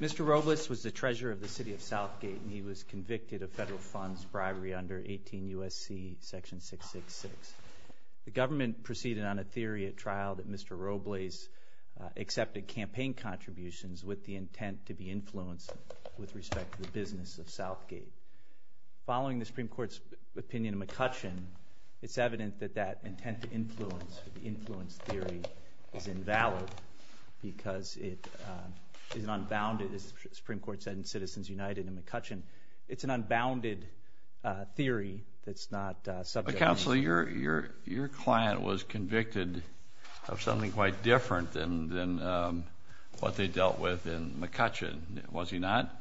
Mr. Robles was the treasurer of the city of Southgate and he was convicted of federal funds bribery under 18 U.S.C. section 666. The government proceeded on a theory at trial that Mr. Robles accepted campaign contributions with the intent to be influenced with respect to the business of Southgate. Following the Supreme Court's opinion in McCutcheon, it's evident that that intent to influence, the influence theory, is invalid because it is an unbounded, as the Supreme Court said in Citizens United and McCutcheon, it's an unbounded theory that's not subject to any... Your client was convicted of something quite different than what they dealt with in McCutcheon, was he not?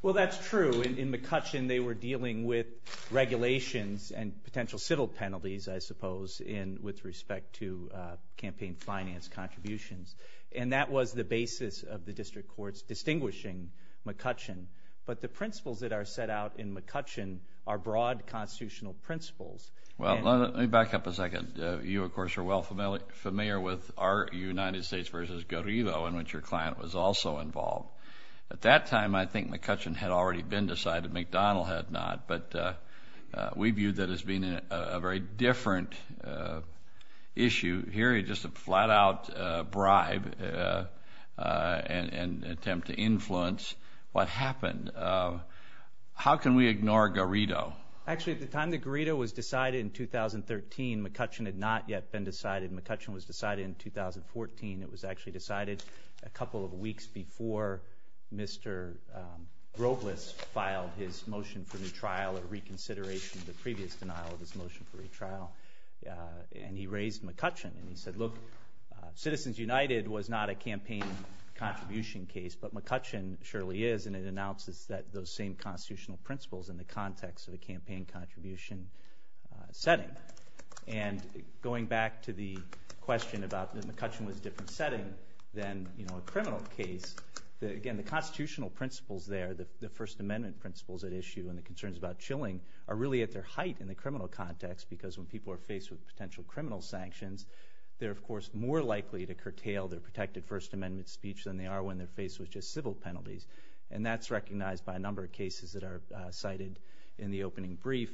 Well, that's true. In McCutcheon, they were dealing with regulations and potential civil penalties, I suppose, with respect to campaign finance contributions. And that was the basis of the district courts distinguishing McCutcheon. But the principles that are set out in McCutcheon are broad constitutional principles. Well, let me back up a second. You, of course, are well familiar with our United States v. Garrido, in which your client was also involved. At that time, I think McCutcheon had already been decided, McDonald had not, but we viewed that as being a very different issue. Here, just a flat-out bribe and attempt to influence what happened. How can we ignore Garrido? Actually, at the time that Garrido was decided in 2013, McCutcheon had not yet been decided. McCutcheon was decided in 2014. It was actually decided a couple of weeks before Mr. Robles filed his motion for retrial or reconsideration of the previous denial of his motion for retrial. And he raised McCutcheon, and he said, look, Citizens United was not a campaign contribution case, but McCutcheon surely is, and it announces those same constitutional principles in the context of a campaign contribution setting. And going back to the question about McCutcheon was a different setting than a criminal case, again, the constitutional principles there, the First Amendment principles at issue and the concerns about chilling are really at their height in the criminal context, because when people are faced with potential criminal sanctions, they're, of course, more likely to curtail their protected First Amendment speech than they are when they're faced with just civil penalties. And that's recognized by a number of cases that are cited in the opening brief,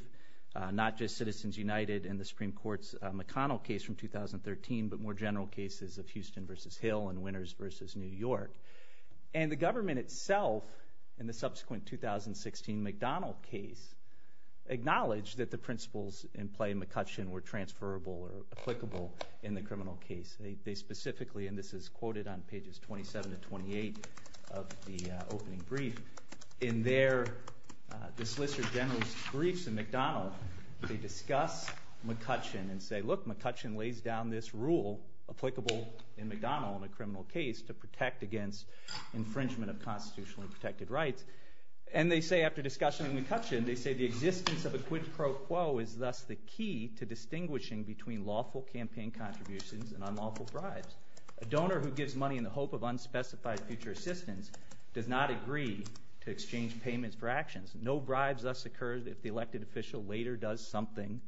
not just Citizens United and the Supreme Court's McConnell case from 2013, but more general cases of Houston v. Hill and Winters v. New York. And the government itself in the subsequent 2016 McDonnell case acknowledged that the principles in play in McCutcheon were transferable or applicable in the criminal case. They specifically, and this is quoted on pages 27 to 28 of the opening brief, in their, this list of general briefs in McDonnell, they discuss McCutcheon and say, look, McCutcheon lays down this rule applicable in McDonnell in a criminal case to protect against infringement of constitutionally protected rights. And they say after discussing McCutcheon, they say the existence of a quid pro quo is thus the key to distinguishing between lawful campaign contributions and unlawful bribes. A donor who gives money in the hope of unspecified future assistance does not agree to exchange payments for actions. No bribes thus occur if the elected official later does something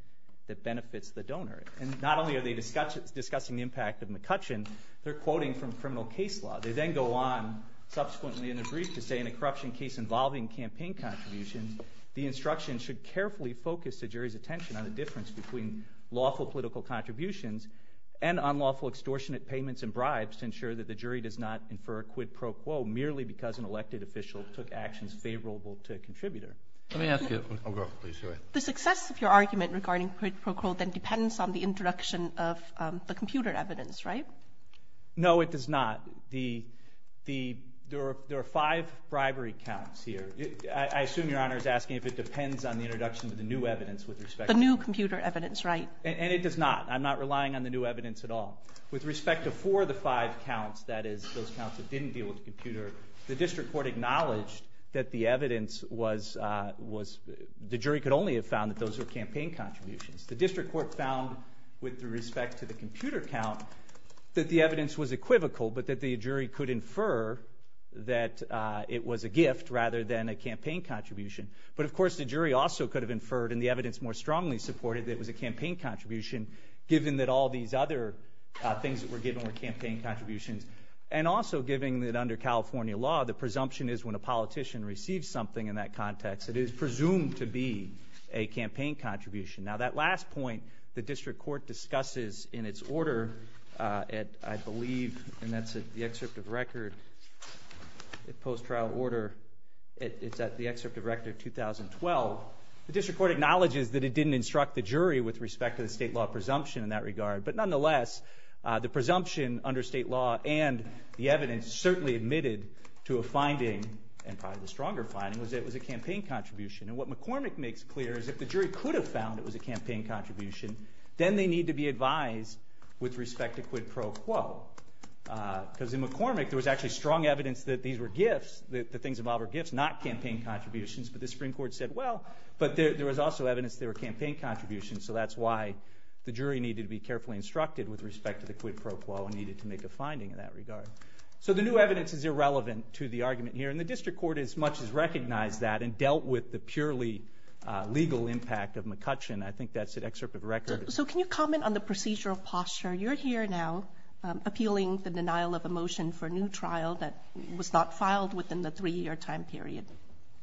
that benefits the donor. And not only are they discussing the impact of McCutcheon, they're quoting from criminal case law. They then go on subsequently in the brief to say in a corruption case involving campaign contributions, the instruction should carefully focus the jury's attention on the difference between lawful political contributions and unlawful extortionate payments and bribes to ensure that the jury does not infer a quid pro quo merely because an elected official took actions favorable to a contributor. Let me ask you, oh go ahead please. The success of your argument regarding quid pro quo then depends on the introduction of the computer evidence, right? No, it does not. There are five bribery counts here. I assume your Honor is asking if it depends on the introduction of the new evidence with respect to the computer evidence. The new computer evidence, right. And it does not. I'm not relying on the new evidence at all. With respect to four of the five counts, that is those counts that didn't deal with the computer, the district court acknowledged that the evidence was, the jury could only have found that those were campaign contributions. The district court found with respect to the computer count that the evidence was equivocal but that the jury could infer that it was a gift rather than a campaign contribution. But of course the jury also could have inferred and the evidence more strongly supported that it was a campaign contribution given that all these other things that were given were campaign contributions. And also given that under California law, the presumption is when a politician receives something in that context, it is presumed to be a campaign contribution. Now that last point, the district court discusses in its order, I believe, and that's in the excerpt of record, the post-trial order. It's at the excerpt of record of 2012. The district court acknowledges that it didn't instruct the jury with respect to the state law presumption in that regard. But nonetheless, the presumption under state law and the evidence certainly admitted to a finding and probably the stronger finding was that it was a campaign contribution. And what McCormick makes clear is that if the jury could have found it was a campaign contribution, then they need to be advised with respect to quid pro quo. Because in McCormick, there was actually strong evidence that these were gifts, that the things involved were gifts, not campaign contributions. But the Supreme Court said, well, but there was also evidence they were campaign contributions. So that's why the jury needed to be carefully instructed with respect to the quid pro quo and needed to make a finding in that regard. So the new evidence is irrelevant to the argument here. And the district court as much as recognized that and dealt with the purely legal impact of McCutcheon, I think that's an excerpt of record. So can you comment on the procedural posture? You're here now appealing the denial of a motion for a new trial that was not filed within the three-year time period.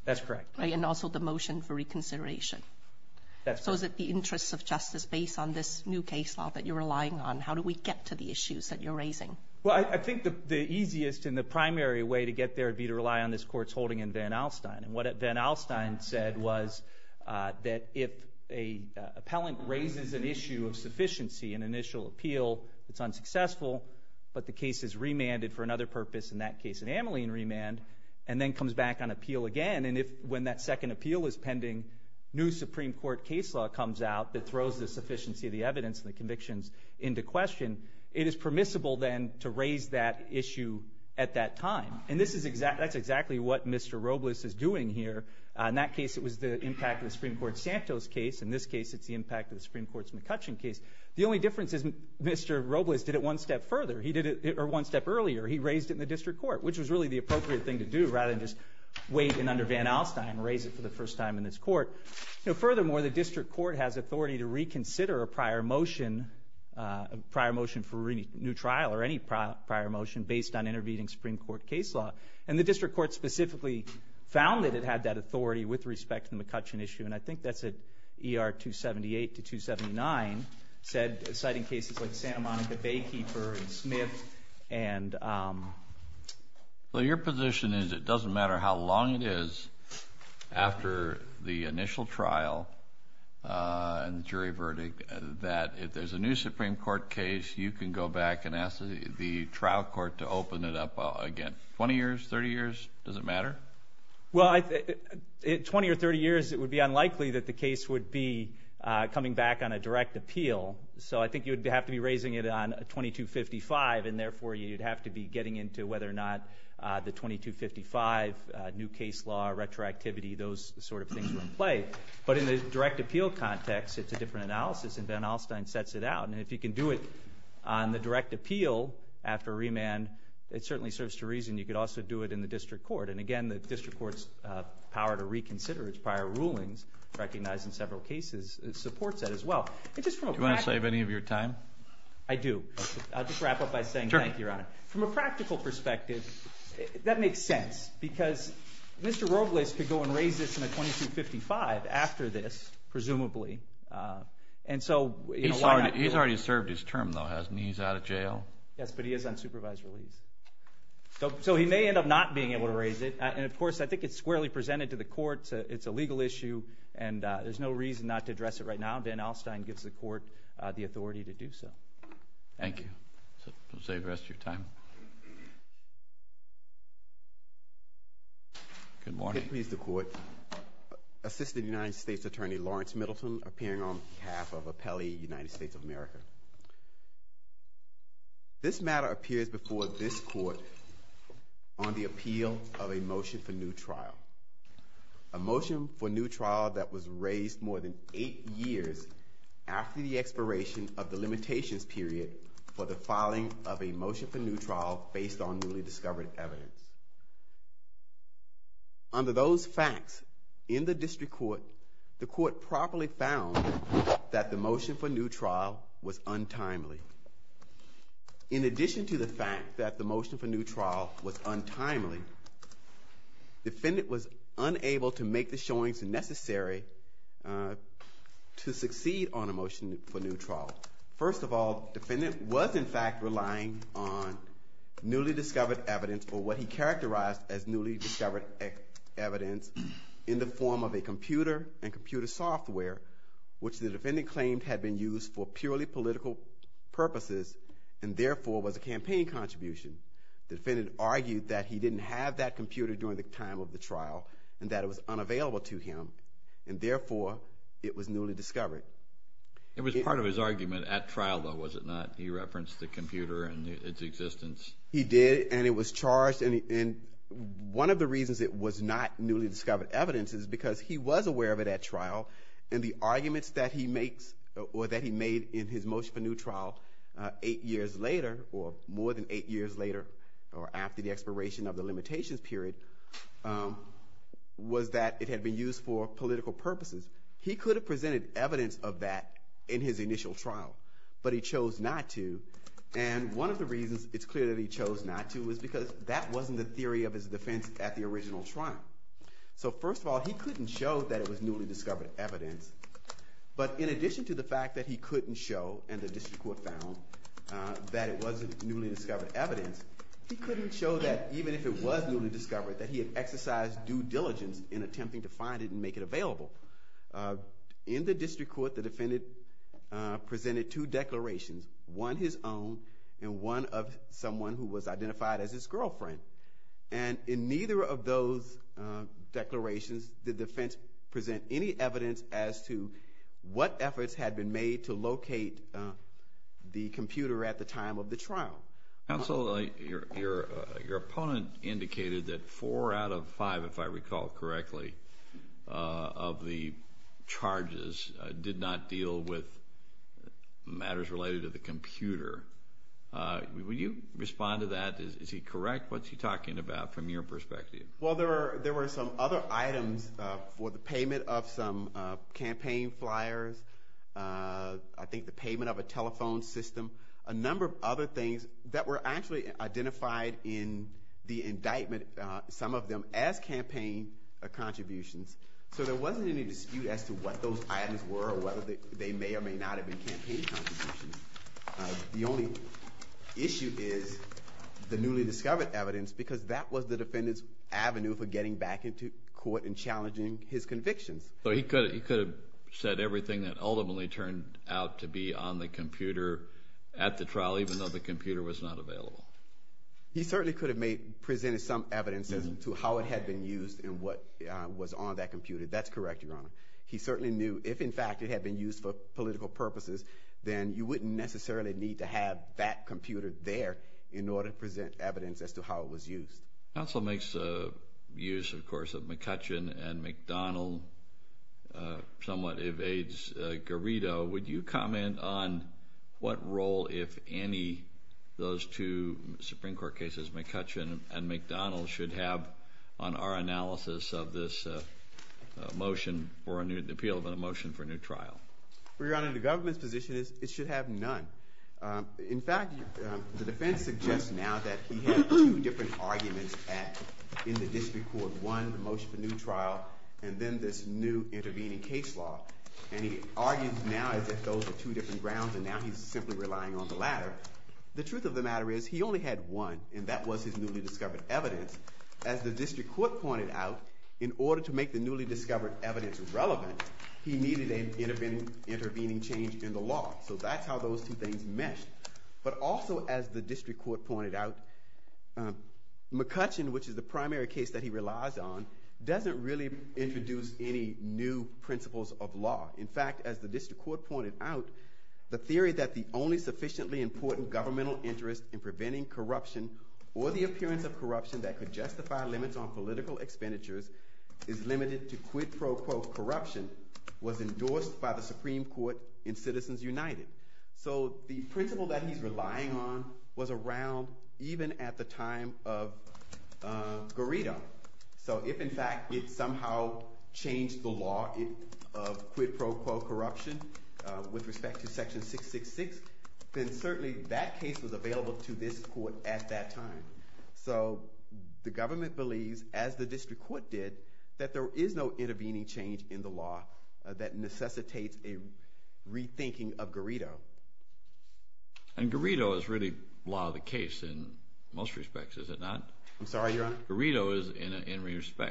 That's correct. And also the motion for reconsideration. That's correct. So is it the interests of justice based on this new case law that you're relying on? How do we get to the issues that you're raising? Well, I think the easiest and the primary way to get there would be to rely on this court's holding in Van Alstyne. And what Van Alstyne said was that if an appellant raises an issue of sufficiency, an initial appeal that's unsuccessful, but the case is remanded for another purpose, in that case an amyline remand, and then comes back on appeal again, and if when that second appeal is pending, new Supreme Court case law comes out that throws the sufficiency of the evidence and the convictions into question, it is permissible then to raise that issue at that time. And that's exactly what Mr. Robles is doing here. In that case, it was the impact of the Supreme Court Santos case. In this case, it's the impact of the Supreme Court's McCutcheon case. The only difference is Mr. Robles did it one step further. He did it one step earlier. He raised it in the district court, which was really the appropriate thing to do, rather than just wait in under Van Alstyne and raise it for the first time in this court. You know, furthermore, the district court has authority to reconsider a prior motion, a prior motion for a new trial or any prior motion based on intervening Supreme Court case law, and the district court specifically found that it had that authority with respect to the McCutcheon issue, and I think that's at ER 278 to 279, citing cases like Santa Monica Baykeeper and Smith. Well, your position is it doesn't matter how long it is after the initial trial and jury verdict that if there's a new Supreme Court case, you can go back and ask the trial court to open it up again. Twenty years? Thirty years? Does it matter? Well, in 20 or 30 years, it would be unlikely that the case would be coming back on a direct appeal, so I think you'd have to be raising it on 2255, and therefore you'd have to be getting into whether or not the 2255 new case law, retroactivity, those sort of things were in play. But in the direct appeal context, it's a different analysis, and Van Alstyne sets it out. And if you can do it on the direct appeal after remand, it certainly serves to reason you could also do it in the district court. And again, the district court's power to reconsider its prior rulings, recognized in several cases, supports that as well. Do you want to save any of your time? I do. I'll just wrap up by saying thank you, Your Honor. From a practical perspective, that makes sense, because Mr. Robles could go and raise this on a 2255 after this, presumably. He's already served his term, though, hasn't he? He's out of jail? Yes, but he is on supervisory leave. So he may end up not being able to raise it, and of course I think it's squarely presented to the courts. It's a legal issue, and there's no reason not to address it right now. Van Alstyne gives the court the authority to do so. Thank you. We'll save the rest of your time. Good morning. Good morning, Mr. Court. Assistant United States Attorney Lawrence Middleton, appearing on behalf of Appellee United States of America. This matter appears before this court on the appeal of a motion for new trial, a motion for new trial that was raised more than eight years after the expiration of the limitations period for the filing of a motion for new trial based on newly discovered evidence. Under those facts, in the district court, the court properly found that the motion for new trial was untimely. In addition to the fact that the motion for new trial was untimely, defendant was unable to make the showings necessary to succeed on a motion for new trial. First of all, defendant was in fact relying on newly discovered evidence or what he characterized as newly discovered evidence in the form of a computer and computer software, which the defendant claimed had been used for purely political purposes and therefore was a campaign contribution. The defendant argued that he didn't have that computer during the time of the trial and that it was unavailable to him, and therefore it was newly discovered. It was part of his argument at trial, though, was it not? He referenced the computer and its existence. He did, and it was charged, and one of the reasons it was not newly discovered evidence is because he was aware of it at trial, and the arguments that he makes or that he made in his motion for new trial eight years later or more than eight years later or after the expiration of the limitations period was that it had been used for political purposes. He could have presented evidence of that in his initial trial, but he chose not to, and one of the reasons it's clear that he chose not to is because that wasn't the theory of his defense at the original trial. So first of all, he couldn't show that it was newly discovered evidence, but in addition to the fact that he couldn't show and the district court found that it wasn't newly discovered evidence, he couldn't show that even if it was newly discovered that he had exercised due diligence in attempting to find it and make it available. In the district court, the defendant presented two declarations, one his own and one of someone who was identified as his girlfriend, and in neither of those declarations did the defense present any evidence as to what efforts had been made to locate the computer at the time of the trial. Counsel, your opponent indicated that four out of five, if I recall correctly, of the charges did not deal with matters related to the computer. Will you respond to that? Is he correct? What's he talking about from your perspective? Well, there were some other items for the payment of some campaign flyers, I think the payment of a telephone system, a number of other things that were actually identified in the indictment, some of them as campaign contributions. So there wasn't any dispute as to what those items were or whether they may or may not have been campaign contributions. The only issue is the newly discovered evidence because that was the defendant's avenue for getting back into court and challenging his convictions. So he could have said everything that ultimately turned out to be on the computer at the trial even though the computer was not available. He certainly could have presented some evidence as to how it had been used and what was on that computer. That's correct, Your Honor. He certainly knew if, in fact, it had been used for political purposes, then you wouldn't necessarily need to have that computer there in order to present evidence as to how it was used. Counsel makes use, of course, of McCutcheon and McDonnell somewhat evades Garrido. Would you comment on what role, if any, those two Supreme Court cases, McCutcheon and McDonnell, should have on our analysis of this motion, the appeal of a motion for a new trial? Well, Your Honor, the government's position is it should have none. In fact, the defense suggests now that he had two different arguments in the district court. One, the motion for a new trial, and then this new intervening case law. And he argues now that those are two different grounds, and now he's simply relying on the latter. The truth of the matter is he only had one, and that was his newly discovered evidence. As the district court pointed out, in order to make the newly discovered evidence relevant, he needed an intervening change in the law. So that's how those two things meshed. But also, as the district court pointed out, McCutcheon, which is the primary case that he relies on, doesn't really introduce any new principles of law. In fact, as the district court pointed out, the theory that the only sufficiently important governmental interest in preventing corruption or the appearance of corruption that could justify limits on political expenditures is limited to quid pro quo corruption was endorsed by the Supreme Court in Citizens United. So the principle that he's relying on was around even at the time of Garrido. So if, in fact, it somehow changed the law of quid pro quo corruption with respect to Section 666, then certainly that case was available to this court at that time. So the government believes, as the district court did, that there is no intervening change in the law that necessitates a rethinking of Garrido. And Garrido is really the law of the case in most respects, is it not? I'm sorry, Your Honor? Garrido is,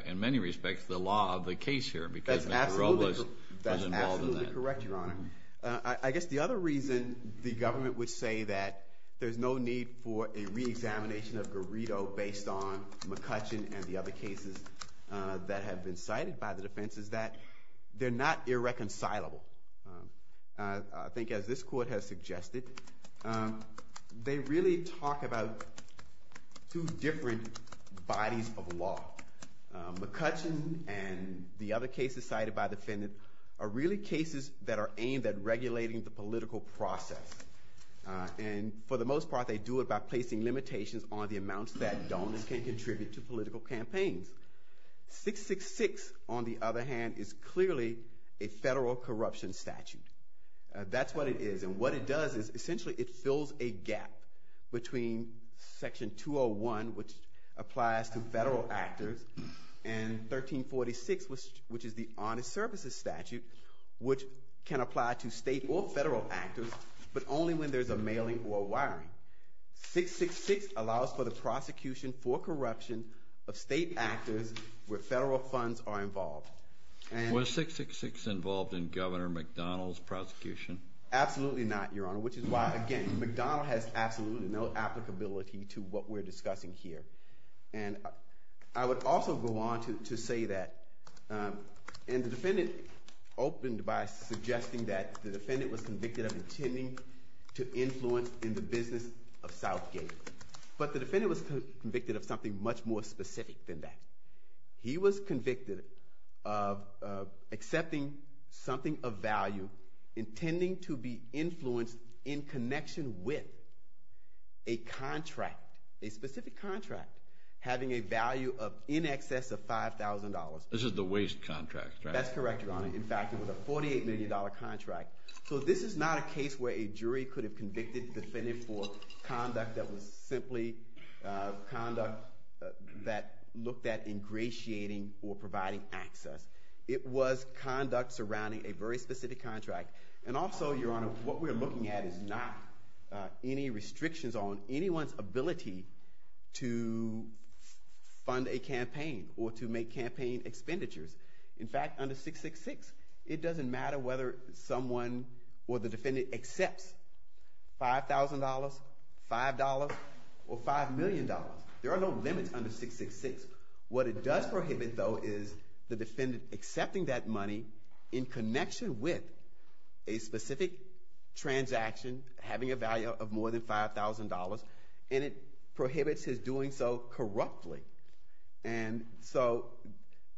in many respects, the law of the case here because Mr. Robles was involved in that. That's absolutely correct, Your Honor. I guess the other reason the government would say that there's no need for a reexamination of Garrido based on McCutcheon and the other cases that have been cited by the defense is that they're not irreconcilable. I think as this court has suggested, they really talk about two different bodies of law. McCutcheon and the other cases cited by the defendant are really cases that are aimed at regulating the political process. And for the most part, they do it by placing limitations on the amounts that donors can contribute to political campaigns. 666, on the other hand, is clearly a federal corruption statute. That's what it is. And what it does is essentially it fills a gap between Section 201, which applies to federal actors, and 1346, which is the honest services statute, which can apply to state or federal actors, but only when there's a mailing or wiring. 666 allows for the prosecution for corruption of state actors where federal funds are involved. Absolutely not, Your Honor, which is why, again, McDonnell has absolutely no applicability to what we're discussing here. And I would also go on to say that, and the defendant opened by suggesting that the defendant was convicted of intending to influence in the business of Southgate. But the defendant was convicted of something much more specific than that. He was convicted of accepting something of value, intending to be influenced in connection with a contract, a specific contract, having a value of in excess of $5,000. This is the waste contract, right? That's correct, Your Honor. In fact, it was a $48 million contract. So this is not a case where a jury could have convicted the defendant for conduct that was simply conduct that looked at ingratiating or providing access. It was conduct surrounding a very specific contract. And also, Your Honor, what we're looking at is not any restrictions on anyone's ability to fund a campaign or to make campaign expenditures. In fact, under 666, it doesn't matter whether someone or the defendant accepts $5,000, $5,000, or $5 million. There are no limits under 666. What it does prohibit, though, is the defendant accepting that money in connection with a specific transaction having a value of more than $5,000, and it prohibits his doing so corruptly. And so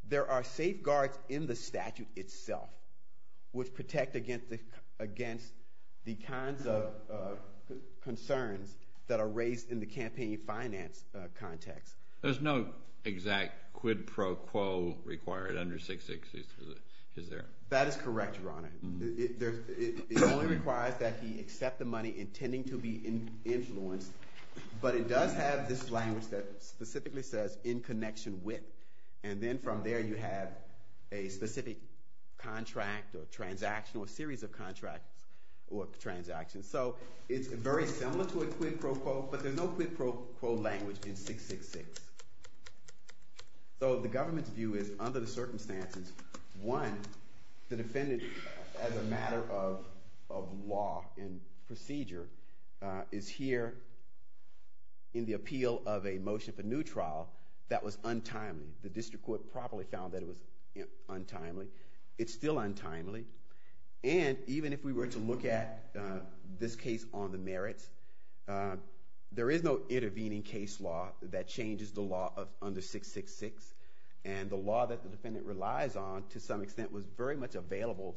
there are safeguards in the statute itself which protect against the kinds of concerns that are raised in the campaign finance context. There's no exact quid pro quo required under 666, is there? That is correct, Your Honor. It only requires that he accept the money intending to be influenced, but it does have this language that specifically says, in connection with, and then from there you have a specific contract or transaction or series of contracts or transactions. So it's very similar to a quid pro quo, but there's no quid pro quo language in 666. So the government's view is, under the circumstances, one, the defendant, as a matter of law and procedure, is here in the appeal of a motion for new trial that was untimely. The district court probably found that it was untimely. It's still untimely. And even if we were to look at this case on the merits, there is no intervening case law that changes the law under 666, and the law that the defendant relies on, to some extent, was very much available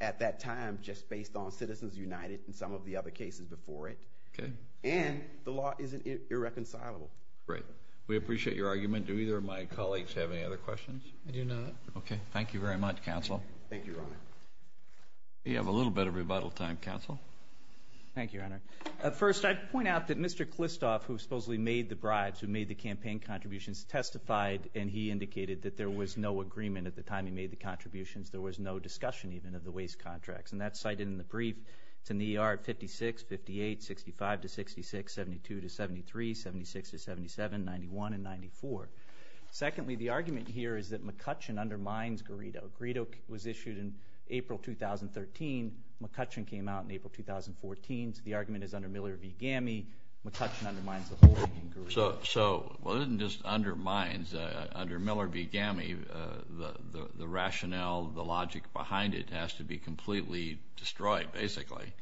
at that time just based on Citizens United and some of the other cases before it. And the law isn't irreconcilable. Great. We appreciate your argument. Do either of my colleagues have any other questions? I do not. Okay. Thank you very much, counsel. Thank you, Your Honor. You have a little bit of rebuttal time, counsel. Thank you, Your Honor. First, I'd point out that Mr. Klistoff, who supposedly made the bribes, who made the campaign contributions, testified, and he indicated that there was no agreement at the time he made the contributions. There was no discussion, even, of the waste contracts. And that's cited in the brief. It's in the ER 56, 58, 65 to 66, 72 to 73, 76 to 77, 91 and 94. Secondly, the argument here is that McCutcheon undermines Garrido. Garrido was issued in April 2013. McCutcheon came out in April 2014. So the argument is under Miller v. Gamme, McCutcheon undermines the whole thing in Garrido. So it doesn't just undermine. Under Miller v. Gamme, the rationale, the logic behind it has to be completely destroyed, basically.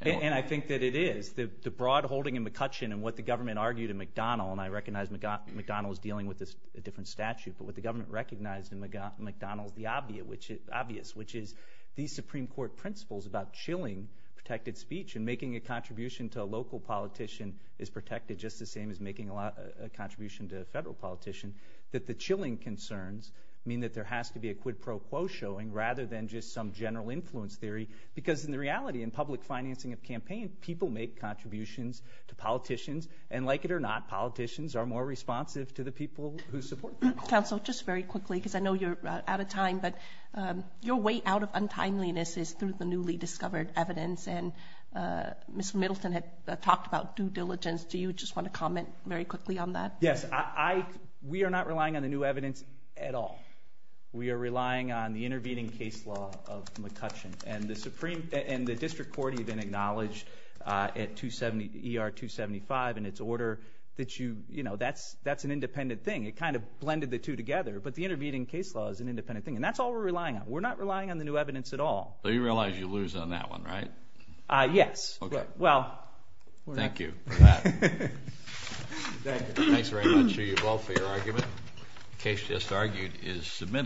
And I think that it is. The broad holding in McCutcheon and what the government argued in McDonnell, and I recognize McDonnell is dealing with a different statute, but what the government recognized in McDonnell is the obvious, which is these Supreme Court principles about chilling protected speech and making a contribution to a local politician is protected, just the same as making a contribution to a federal politician, that the chilling concerns mean that there has to be a quid pro quo showing rather than just some general influence theory. Because in the reality, in public financing of campaign, people make contributions to politicians, and like it or not, politicians are more responsive to the people who support them. Counsel, just very quickly, because I know you're out of time, but your way out of untimeliness is through the newly discovered evidence and Mr. Middleton had talked about due diligence. Do you just want to comment very quickly on that? Yes. We are not relying on the new evidence at all. We are relying on the intervening case law of McCutcheon, and the district court even acknowledged at ER 275 and its order that you, you know, that's an independent thing. It kind of blended the two together, but the intervening case law is an independent thing, and that's all we're relying on. We're not relying on the new evidence at all. So you realize you lose on that one, right? Yes. Well, we're not. Thank you for that. Thanks very much to you both for your argument. The case just argued is submitted.